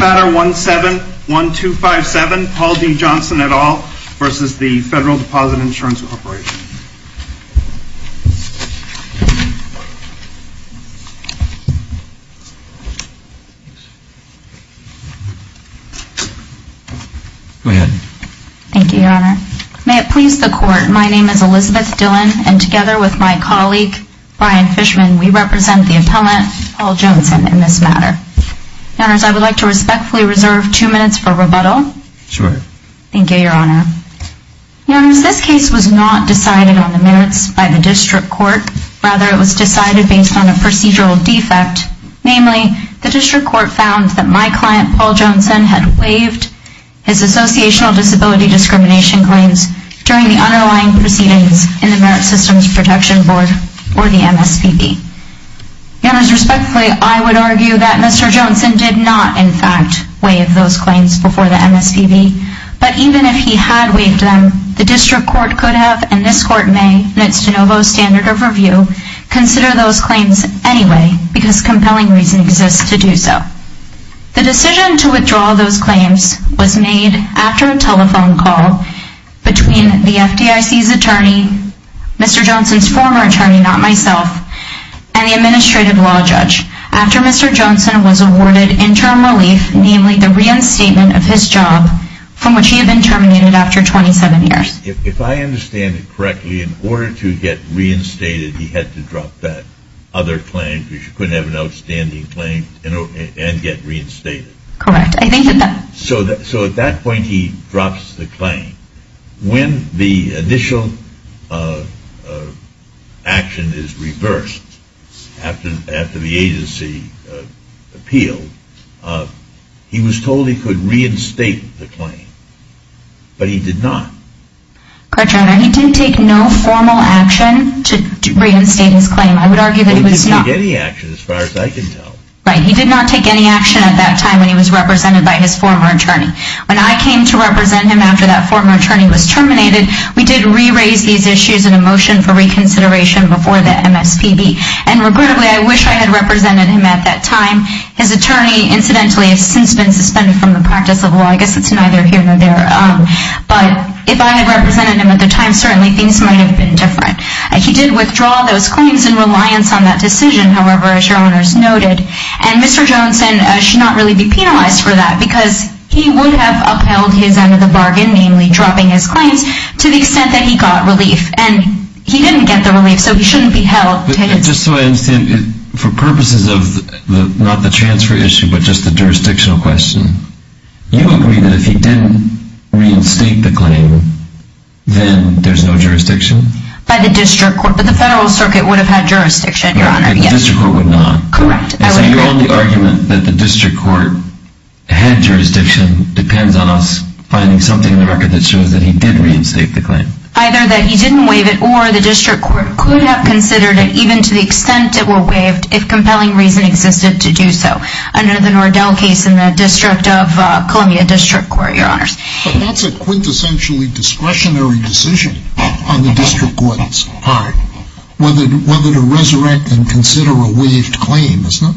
Matter 171257, Paul D. Jonson et al. v. Federal Deposit Insurance Corporation May it please the Court, my name is Elizabeth Dillon and together with my colleague, Brian Fishman, we represent the appellant, Paul Jonson, in this matter. Your Honors, I would like to respectfully reserve two minutes for rebuttal. Sure. Thank you, Your Honor. Your Honors, this case was not decided on the merits by the District Court. Rather, it was decided based on a procedural defect. Namely, the District Court found that my client, Paul Jonson, had waived his associational disability discrimination claims during the underlying proceedings in the Merit Systems Protection Board, or the MSPB. Your Honors, respectfully, I would argue that Mr. Jonson did not, in fact, waive those claims before the MSPB. But even if he had waived them, the District Court could have, and this Court may, in its de novo standard of review, consider those claims anyway, because compelling reason exists to do so. The decision to withdraw those claims was made after a telephone call between the FDIC's attorney, Mr. Jonson's former attorney, not myself, and the Administrative Law Judge, after Mr. Jonson was awarded interim relief, namely the reinstatement of his job, from which he had been terminated after 27 years. If I understand it correctly, in order to get reinstated, he had to drop that other claim, because you couldn't have an outstanding claim and get reinstated. Correct. So at that point he drops the claim. When the initial action is reversed, after the agency appealed, he was told he could reinstate the claim, but he did not. Correct, Your Honor, he didn't take no formal action to reinstate his claim. He didn't take any action, as far as I can tell. Right, he did not take any action at that time when he was represented by his former attorney. When I came to represent him after that former attorney was terminated, we did re-raise these issues in a motion for reconsideration before the MSPB, and regrettably, I wish I had represented him at that time. His attorney, incidentally, has since been suspended from the practice of law. I guess it's neither here nor there. But if I had represented him at the time, certainly things might have been different. He did withdraw those claims in reliance on that decision, however, as Your Honors noted. And Mr. Johnson should not really be penalized for that, because he would have upheld his end of the bargain, namely dropping his claims, to the extent that he got relief. And he didn't get the relief, so he shouldn't be held. Just so I understand, for purposes of not the transfer issue, but just the jurisdictional question, you agree that if he didn't reinstate the claim, then there's no jurisdiction? By the District Court. But the Federal Circuit would have had jurisdiction, Your Honor. The District Court would not. Correct. Your only argument that the District Court had jurisdiction depends on us finding something in the record that shows that he did reinstate the claim. Either that he didn't waive it, or the District Court could have considered it, even to the extent it were waived, if compelling reason existed to do so, under the Nordell case in the District of Columbia District Court, Your Honors. But that's a quintessentially discretionary decision on the District Court's part, whether to resurrect and consider a waived claim, isn't it?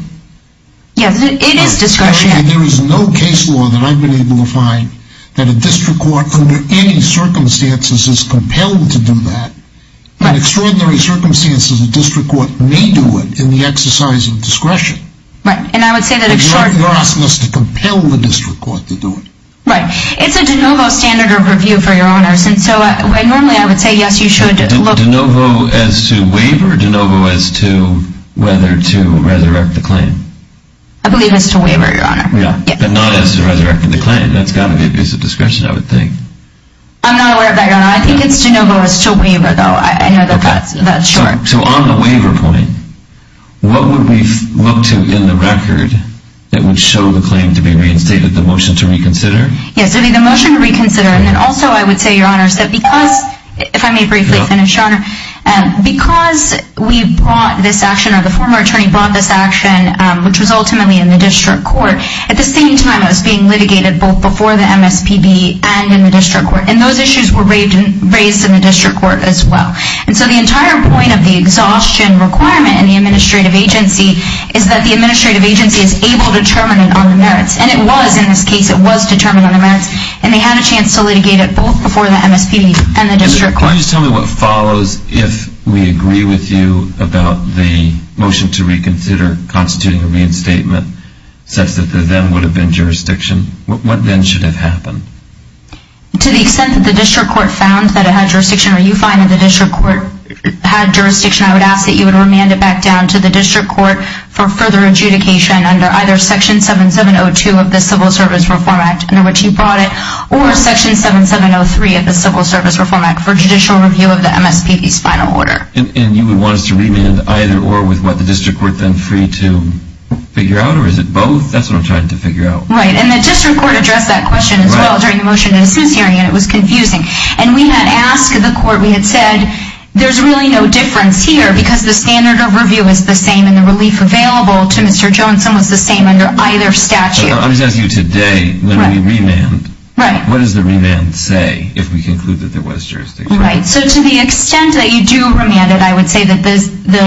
Yes, it is discretionary. There is no case law that I've been able to find that a District Court, under any circumstances, is compelled to do that. In extraordinary circumstances, a District Court may do it, in the exercise of discretion. Right, and I would say that in short... You're asking us to compel the District Court to do it. Right. It's a de novo standard of review for Your Honors, and so normally I would say, yes, you should look... De novo as to waiver, or de novo as to whether to resurrect the claim? I believe as to waiver, Your Honor. Yeah, but not as to resurrecting the claim. That's got to be a piece of discretion, I would think. I'm not aware of that, Your Honor. I think it's de novo as to waiver, though. I know that that's short. So on the waiver point, what would we look to in the record that would show the claim to be reinstated? The motion to reconsider? Yes, it would be the motion to reconsider, and then also I would say, Your Honors, that because... If I may briefly finish, Your Honor. Because we brought this action, or the former attorney brought this action, which was ultimately in the District Court, at the same time it was being litigated both before the MSPB and in the District Court, and those issues were raised in the District Court as well. And so the entire point of the exhaustion requirement in the Administrative Agency is that the Administrative Agency is able to determine it on the merits. And it was, in this case, it was determined on the merits, and they had a chance to litigate it both before the MSPB and the District Court. Can you just tell me what follows if we agree with you about the motion to reconsider constituting a reinstatement such that there then would have been jurisdiction? What then should have happened? To the extent that the District Court found that it had jurisdiction, or you find that the District Court had jurisdiction, I would ask that you would remand it back down to the District Court for further adjudication under either Section 7702 of the Civil Service Reform Act under which you brought it, or Section 7703 of the Civil Service Reform Act for judicial review of the MSPB's final order. And you would want us to remand either or with what the District Court then free to figure out, or is it both? That's what I'm trying to figure out. Right, and the District Court addressed that question as well during the motion in the Senate hearing, and it was confusing. And we had asked the Court, we had said, there's really no difference here because the standard of review is the same and the relief available to Mr. Johnson was the same under either statute. I'm just asking you today, when we remand, what does the remand say if we conclude that there was jurisdiction? Right, so to the extent that you do remand it, I would say that the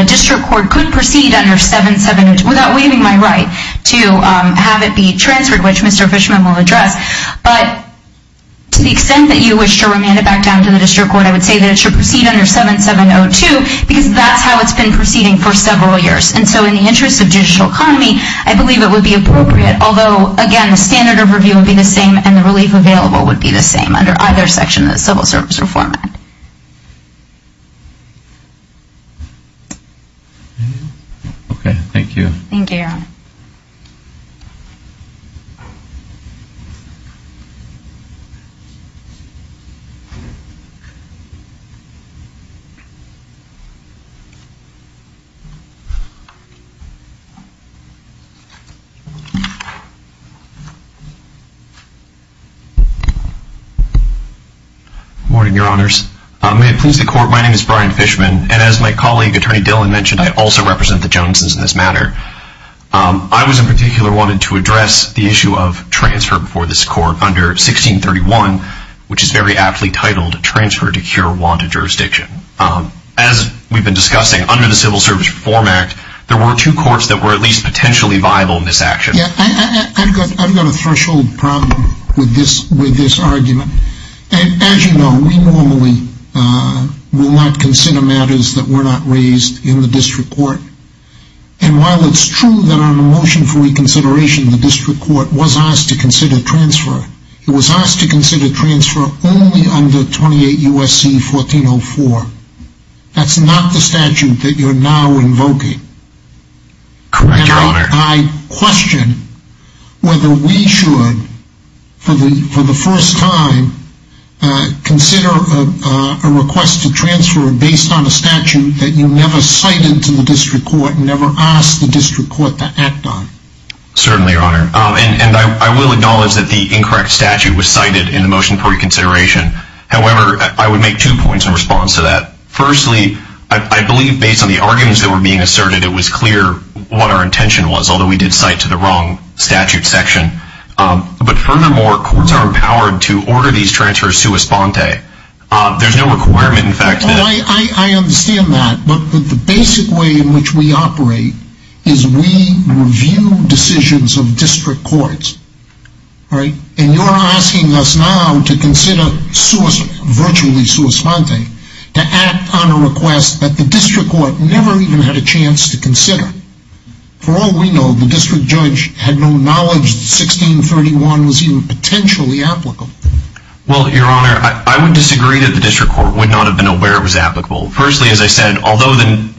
District Court could proceed under 7702, without waiving my right to have it be transferred, which Mr. Fishman will address. But to the extent that you wish to remand it back down to the District Court, I would say that it should proceed under 7702 because that's how it's been proceeding for several years. And so in the interest of judicial economy, I believe it would be appropriate, although, again, the standard of review would be the same and the relief available would be the same under either section of the Civil Service Reform Act. Okay, thank you. Thank you, Your Honor. Good morning, Your Honors. May it please the Court, my name is Brian Fishman, and as my colleague, Attorney Dillon, mentioned, I also represent the Johnsons in this matter. I was, in particular, wanted to address the issue of transfer before this Court under 1631, which is very aptly titled, Transfer to Cure Wanted Jurisdiction. As we've been discussing, under the Civil Service Reform Act, there were two courts that were at least potentially viable in this action. Yeah, I've got a threshold problem with this argument. As you know, we normally will not consider matters that were not raised in the District Court. And while it's true that on the motion for reconsideration, the District Court was asked to consider transfer, it was asked to consider transfer only under 28 U.S.C. 1404. That's not the statute that you're now invoking. Correct, Your Honor. I question whether we should, for the first time, consider a request to transfer based on a statute that you never cited to the District Court and never asked the District Court to act on. Certainly, Your Honor. And I will acknowledge that the incorrect statute was cited in the motion for reconsideration. However, I would make two points in response to that. Firstly, I believe based on the arguments that were being asserted, it was clear what our intention was, although we did cite to the wrong statute section. But furthermore, courts are empowered to order these transfers sua sponte. There's no requirement, in fact, that... I understand that, but the basic way in which we operate is we review decisions of District Courts. And you're asking us now to consider virtually sua sponte, to act on a request that the District Court never even had a chance to consider. For all we know, the District Judge had no knowledge that 1631 was even potentially applicable. Well, Your Honor, I would disagree that the District Court would not have been aware it was applicable. Firstly, as I said, although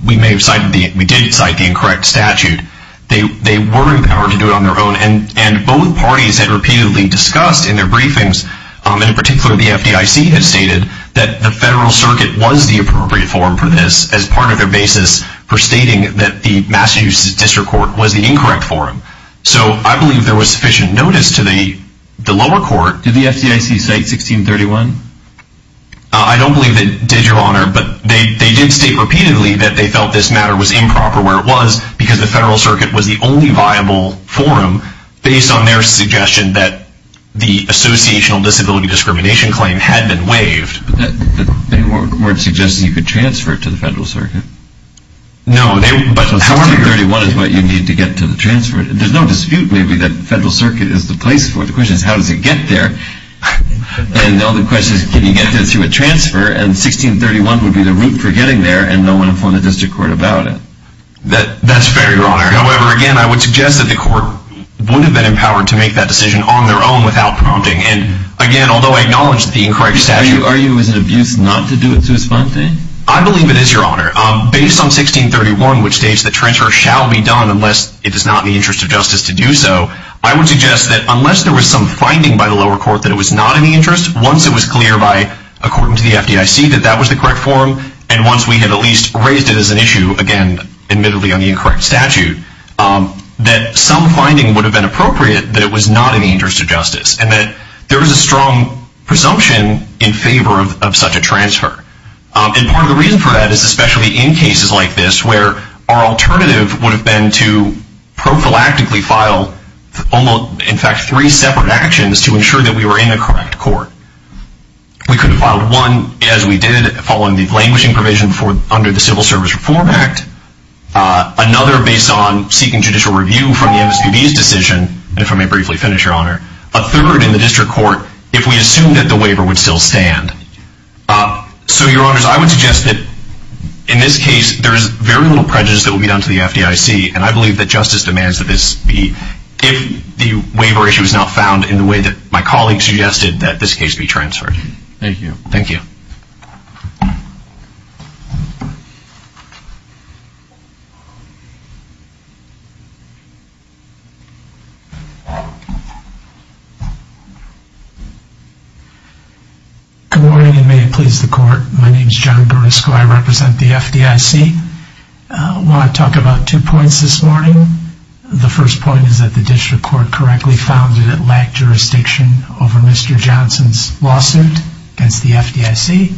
we did cite the incorrect statute, they were empowered to do it on their own. And both parties had repeatedly discussed in their briefings, and in particular the FDIC had stated, that the Federal Circuit was the appropriate forum for this as part of their basis for stating that the Massachusetts District Court was the incorrect forum. So I believe there was sufficient notice to the lower court... Did the FDIC cite 1631? I don't believe they did, Your Honor, but they did state repeatedly that they felt this matter was improper where it was, because the Federal Circuit was the only viable forum, based on their suggestion that the associational disability discrimination claim had been waived. But they weren't suggesting you could transfer it to the Federal Circuit. No, but 1631 is what you need to get to the transfer. There's no dispute, maybe, that the Federal Circuit is the place for it. The question is, how does it get there? And the other question is, can you get there through a transfer? And 1631 would be the route for getting there, and no one would have phoned the District Court about it. That's fair, Your Honor. However, again, I would suggest that the court would have been empowered to make that decision on their own without prompting. And, again, although I acknowledge the incorrect statute... Are you, as an abuser, not to do it sui sponte? I believe it is, Your Honor. Based on 1631, which states that transfer shall be done unless it is not in the interest of justice to do so, I would suggest that unless there was some finding by the lower court that it was not in the interest, once it was clear by, according to the FDIC, that that was the correct form, and once we had at least raised it as an issue, again, admittedly on the incorrect statute, that some finding would have been appropriate that it was not in the interest of justice, and that there was a strong presumption in favor of such a transfer. And part of the reason for that is, especially in cases like this, where our alternative would have been to prophylactically file, in fact, three separate actions to ensure that we were in the correct court. We could have filed one, as we did, following the languishing provision under the Civil Service Reform Act, another based on seeking judicial review from the MSPB's decision, if I may briefly finish, Your Honor, a third in the district court if we assumed that the waiver would still stand. So, Your Honors, I would suggest that, in this case, there is very little prejudice that will be done to the FDIC, and I believe that justice demands that this be, if the waiver issue is not found in the way that my colleague suggested, that this case be transferred. Thank you. Thank you. Good morning, and may it please the Court. My name is John Beresko. I represent the FDIC. I want to talk about two points this morning. The first point is that the district court correctly found that it lacked jurisdiction over Mr. Johnson's lawsuit against the FDIC.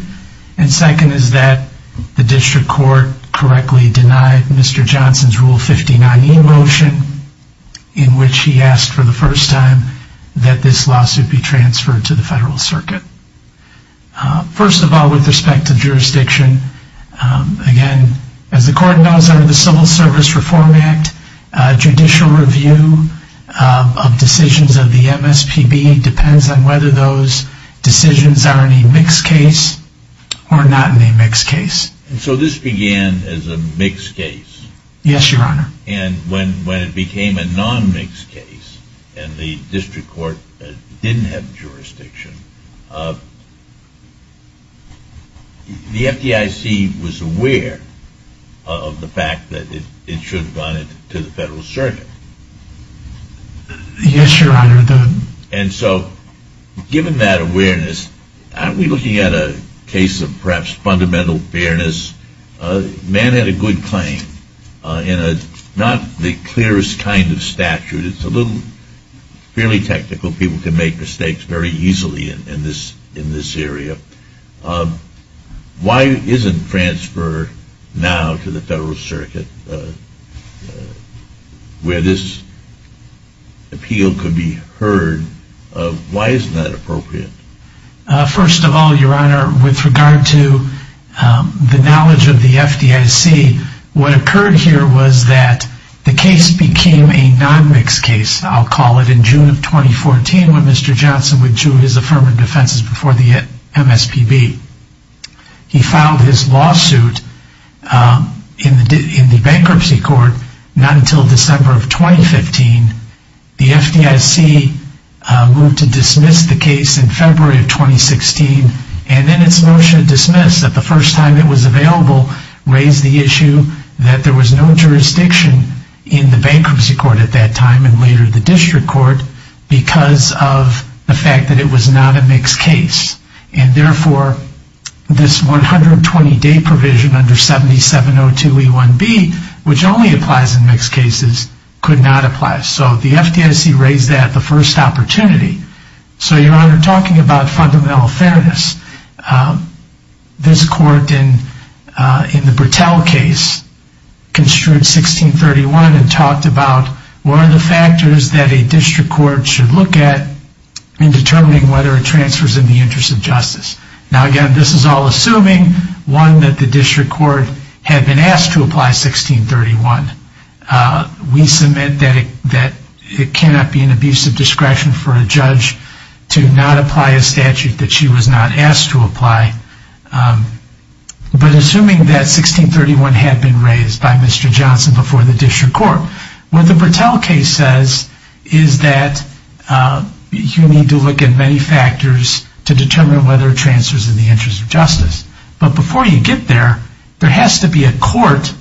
And second is that the district court correctly denied Mr. Johnson's Rule 59e motion, in which he asked for the first time that this lawsuit be transferred to the Federal Circuit. First of all, with respect to jurisdiction, again, as the Court knows under the Civil Service Reform Act, judicial review of decisions of the MSPB depends on whether those decisions are in a mixed case or not in a mixed case. So this began as a mixed case? Yes, Your Honor. And when it became a non-mixed case, and the district court didn't have jurisdiction, the FDIC was aware of the fact that it should have gone to the Federal Circuit. Yes, Your Honor. And so given that awareness, aren't we looking at a case of perhaps fundamental fairness? Mann had a good claim. In not the clearest kind of statute, it's a little fairly technical. People can make mistakes very easily in this area. Why isn't transfer now to the Federal Circuit, where this appeal could be heard, why isn't that appropriate? First of all, Your Honor, with regard to the knowledge of the FDIC, what occurred here was that the case became a non-mixed case, I'll call it, in June of 2014 when Mr. Johnson withdrew his affirmative defenses before the MSPB. He filed his lawsuit in the bankruptcy court not until December of 2015. The FDIC moved to dismiss the case in February of 2016, and then its motion dismissed that the first time it was available raised the issue that there was no jurisdiction in the bankruptcy court at that time, and later the district court, because of the fact that it was not a mixed case. And therefore, this 120-day provision under 7702E1B, which only applies in mixed cases, could not apply. So the FDIC raised that at the first opportunity. So, Your Honor, talking about fundamental fairness, this court in the Bertell case construed 1631 and talked about what are the factors that a district court should look at in determining whether a transfer is in the interest of justice. Now, again, this is all assuming, one, that the district court had been asked to apply 1631. We submit that it cannot be an abuse of discretion for a judge to not apply a statute that she was not asked to apply. But assuming that 1631 had been raised by Mr. Johnson before the district court, what the Bertell case says is that you need to look at many factors to determine whether a transfer is in the interest of justice. But before you get there, there has to be a court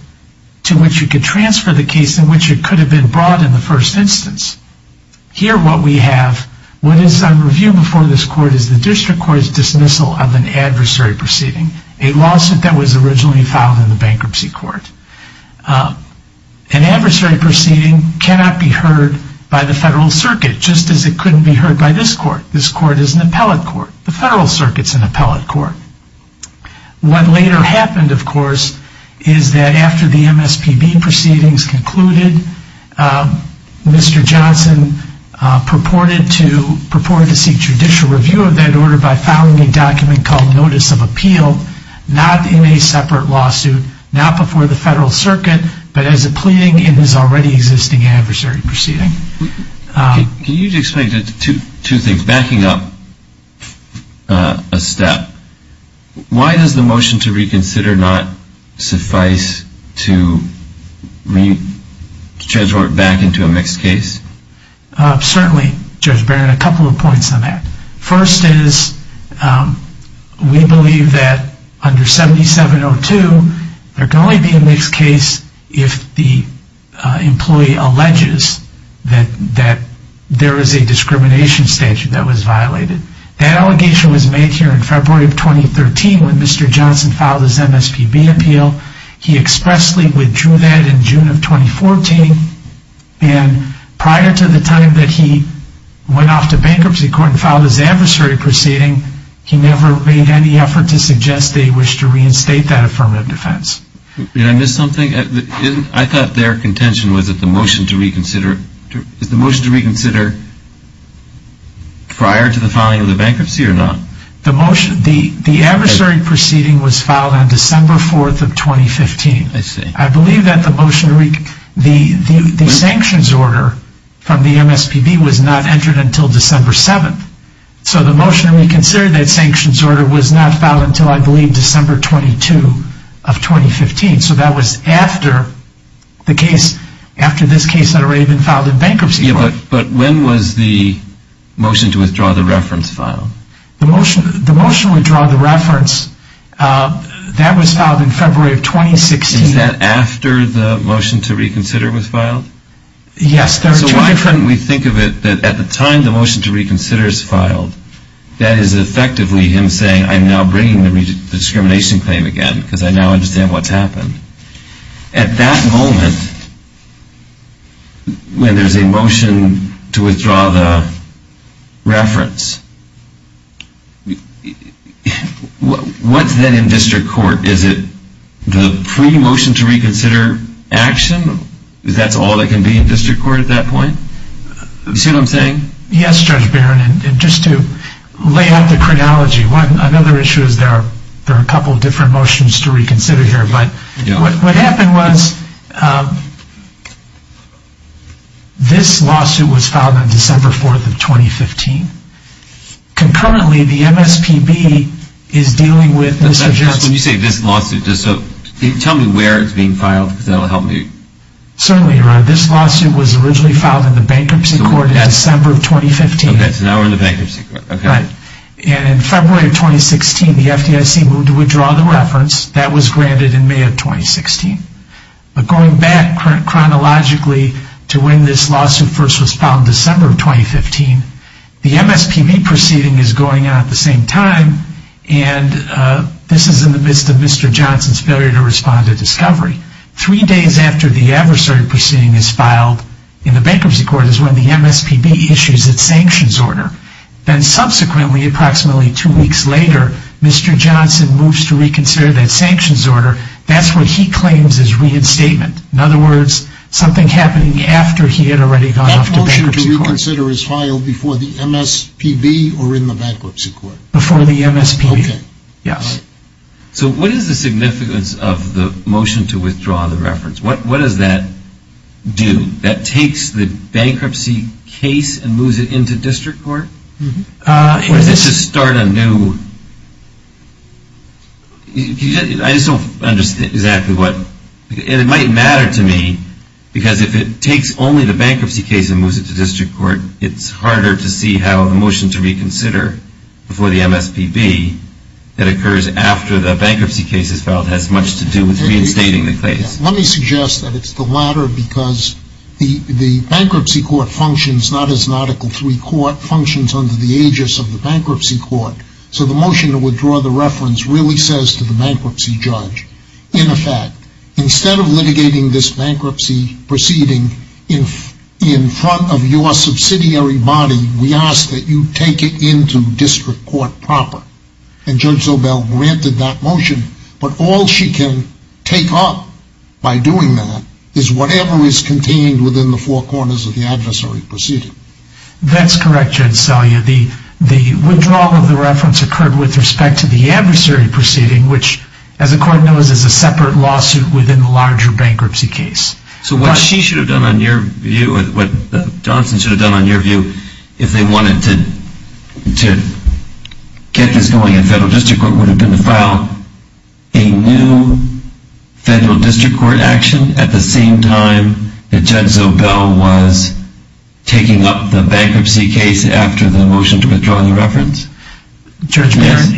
to which you could transfer the case in which it could have been brought in the first instance. Here, what we have, what is on review before this court, is the district court's dismissal of an adversary proceeding, a lawsuit that was originally filed in the bankruptcy court. An adversary proceeding cannot be heard by the federal circuit, just as it couldn't be heard by this court. This court is an appellate court. The federal circuit is an appellate court. What later happened, of course, is that after the MSPB proceedings concluded, Mr. Johnson purported to seek judicial review of that order by filing a document called Notice of Appeal, not in a separate lawsuit, not before the federal circuit, but as a pleading in his already existing adversary proceeding. Can you explain two things, backing up a step. Why does the motion to reconsider not suffice to transform it back into a mixed case? Certainly, Judge Barron, a couple of points on that. First is, we believe that under 7702, there can only be a mixed case if the employee alleges that there is a discrimination statute that was violated. That allegation was made here in February of 2013 when Mr. Johnson filed his MSPB appeal. He expressly withdrew that in June of 2014, and prior to the time that he went off to bankruptcy court and filed his adversary proceeding, he never made any effort to suggest that he wished to reinstate that affirmative defense. Did I miss something? I thought their contention was that the motion to reconsider prior to the filing of the bankruptcy or not? The adversary proceeding was filed on December 4th of 2015. I see. I believe that the sanctions order from the MSPB was not entered until December 7th. So the motion to reconsider that sanctions order was not filed until, I believe, December 22 of 2015. So that was after this case had already been filed in bankruptcy court. But when was the motion to withdraw the reference filed? The motion to withdraw the reference, that was filed in February of 2016. Is that after the motion to reconsider was filed? Yes. So why couldn't we think of it that at the time the motion to reconsider is filed, that is effectively him saying I'm now bringing the discrimination claim again because I now understand what's happened. At that moment, when there's a motion to withdraw the reference, what's then in district court? Is it the pre-motion to reconsider action? Is that all that can be in district court at that point? You see what I'm saying? Yes, Judge Barron. And just to lay out the chronology, another issue is there are a couple of different motions to reconsider here. But what happened was this lawsuit was filed on December 4th of 2015. Concurrently, the MSPB is dealing with this objection. When you say this lawsuit, tell me where it's being filed because that will help me. Certainly, Your Honor. This lawsuit was originally filed in the bankruptcy court in December of 2015. So now we're in the bankruptcy court. Right. And in February of 2016, the FDIC moved to withdraw the reference. That was granted in May of 2016. But going back chronologically to when this lawsuit first was filed in December of 2015, the MSPB proceeding is going out at the same time, and this is in the midst of Mr. Johnson's failure to respond to discovery. Three days after the adversary proceeding is filed in the bankruptcy court is when the MSPB issues its sanctions order. Then subsequently, approximately two weeks later, Mr. Johnson moves to reconsider that sanctions order. That's what he claims is reinstatement. In other words, something happening after he had already gone off to bankruptcy court. The sanctions order is filed before the MSPB or in the bankruptcy court. Before the MSPB. Okay. Yes. So what is the significance of the motion to withdraw the reference? What does that do? That takes the bankruptcy case and moves it into district court? Or does it just start a new? I just don't understand exactly what. And it might matter to me because if it takes only the bankruptcy case and moves it to district court, it's harder to see how the motion to reconsider before the MSPB that occurs after the bankruptcy case is filed has much to do with reinstating the case. Let me suggest that it's the latter because the bankruptcy court functions not as an Article III court, functions under the aegis of the bankruptcy court. So the motion to withdraw the reference really says to the bankruptcy judge, in effect, instead of litigating this bankruptcy proceeding in front of your subsidiary body, we ask that you take it into district court proper. And Judge Zobel granted that motion. But all she can take up by doing that is whatever is contained within the four corners of the adversary proceeding. That's correct, Judge Selya. The withdrawal of the reference occurred with respect to the adversary proceeding, which as the court knows is a separate lawsuit within the larger bankruptcy case. So what she should have done on your view, what Johnson should have done on your view, if they wanted to get this going in federal district court would have been to file a new federal district court action at the same time that Judge Zobel was taking up the bankruptcy case after the motion to withdraw the reference? Judge Barron,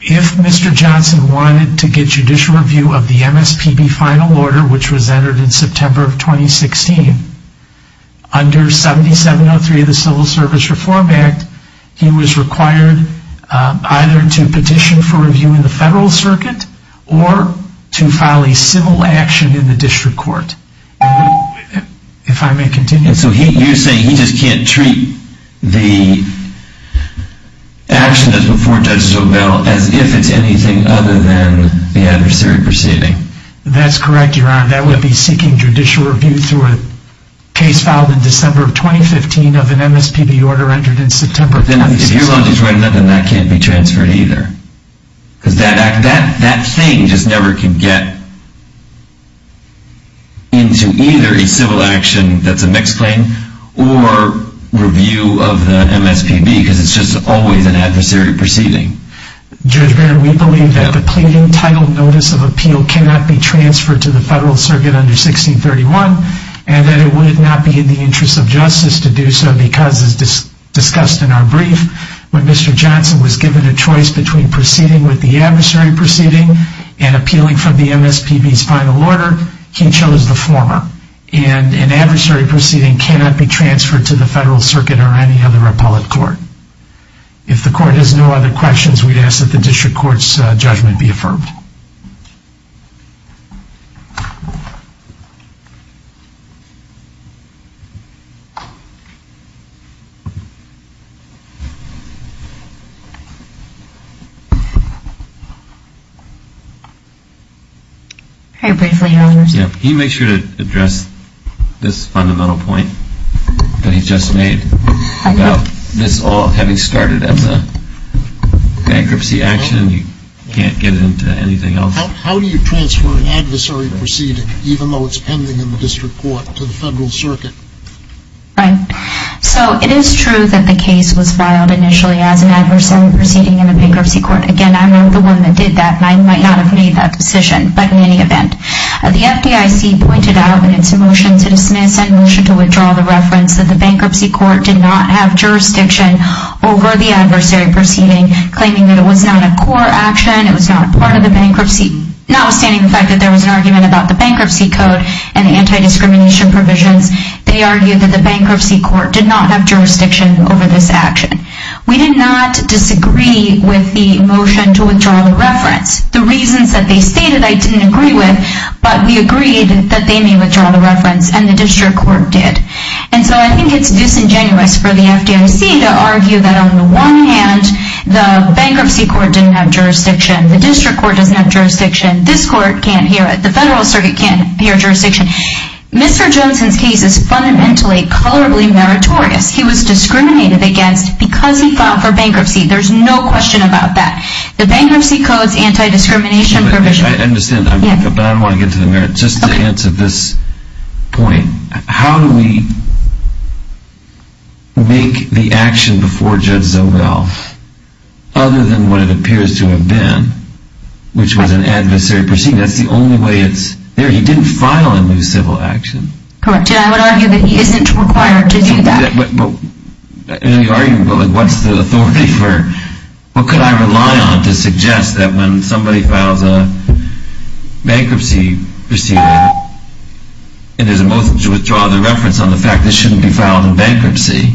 if Mr. Johnson wanted to get judicial review of the MSPB final order, which was entered in September of 2016, under 7703 of the Civil Service Reform Act, he was required either to petition for review in the federal circuit or to file a civil action in the district court. If I may continue. So you're saying he just can't treat the action that's before Judge Zobel as if it's anything other than the adversary proceeding? That's correct, Your Honor. That would be seeking judicial review through a case filed in December of 2015 of an MSPB order entered in September of 2016. If your logic is right, then that can't be transferred either. Because that thing just never can get into either a civil action that's a mixed claim or review of the MSPB because it's just always an adversary proceeding. Judge Barron, we believe that the pleading title notice of appeal cannot be transferred to the federal circuit under 1631 and that it would not be in the interest of justice to do so because, as discussed in our brief, when Mr. Johnson was given a choice between proceeding with the adversary proceeding and appealing from the MSPB's final order, he chose the former. And an adversary proceeding cannot be transferred to the federal circuit or any other appellate court. If the court has no other questions, we'd ask that the district court's judgment be affirmed. Can you make sure to address this fundamental point that he just made about this all having started as a bankruptcy action and you can't get into anything else? How do you transfer an adversary proceeding, even though it's pending in the district court, to the federal circuit? Right. So it is true that the case was filed initially as an adversary proceeding in a bankruptcy court. Again, I'm not the one that did that and I might not have made that decision. But in any event, the FDIC pointed out in its motion to dismiss and motion to withdraw the reference that the bankruptcy court did not have jurisdiction over the adversary proceeding, claiming that it was not a core action, it was not a part of the bankruptcy. Notwithstanding the fact that there was an argument about the bankruptcy code and the anti-discrimination provisions, they argued that the bankruptcy court did not have jurisdiction over this action. We did not disagree with the motion to withdraw the reference. The reasons that they stated I didn't agree with, but we agreed that they may withdraw the reference and the district court did. And so I think it's disingenuous for the FDIC to argue that on the one hand, the bankruptcy court didn't have jurisdiction, the district court doesn't have jurisdiction, this court can't hear it, the federal circuit can't hear jurisdiction. Mr. Johnson's case is fundamentally colorably meritorious. He was discriminated against because he filed for bankruptcy. There's no question about that. The bankruptcy code's anti-discrimination provision... I understand, but I don't want to get into the merits. Just to answer this point, how do we make the action before Judge Zobel, other than what it appears to have been, which was an adversary proceeding, that's the only way it's there. He didn't file a new civil action. Correct, and I would argue that he isn't required to do that. In any argument, what's the authority for... What could I rely on to suggest that when somebody files a bankruptcy proceeding and there's a motion to withdraw the reference on the fact this shouldn't be filed in bankruptcy,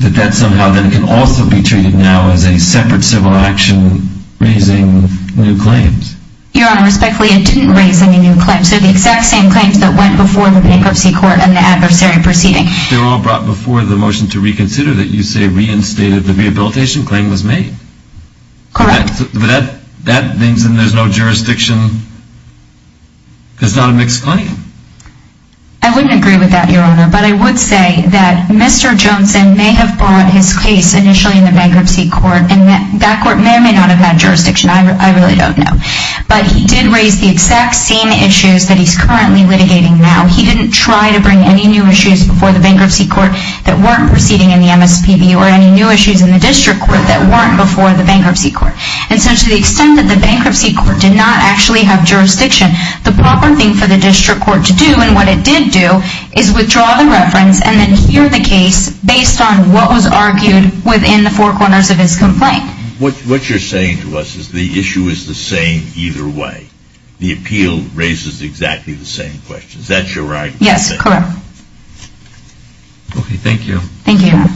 that that somehow then can also be treated now as a separate civil action raising new claims? Your Honor, respectfully, it didn't raise any new claims. They're the exact same claims that went before the bankruptcy court and the adversary proceeding. They were all brought before the motion to reconsider that you say reinstated the rehabilitation claim was made. Correct. But that means then there's no jurisdiction. It's not a mixed claim. I wouldn't agree with that, Your Honor, but I would say that Mr. Johnson may have brought his case initially in the bankruptcy court, and that court may or may not have had jurisdiction. I really don't know. But he did raise the exact same issues that he's currently litigating now. He didn't try to bring any new issues before the bankruptcy court that weren't proceeding in the MSPB or any new issues in the district court that weren't before the bankruptcy court. And so to the extent that the bankruptcy court did not actually have jurisdiction, the proper thing for the district court to do, and what it did do, is withdraw the reference and then hear the case based on what was argued within the four corners of his complaint. What you're saying to us is the issue is the same either way. The appeal raises exactly the same questions. Is that your right? Yes, correct. Okay, thank you. Thank you, Your Honor.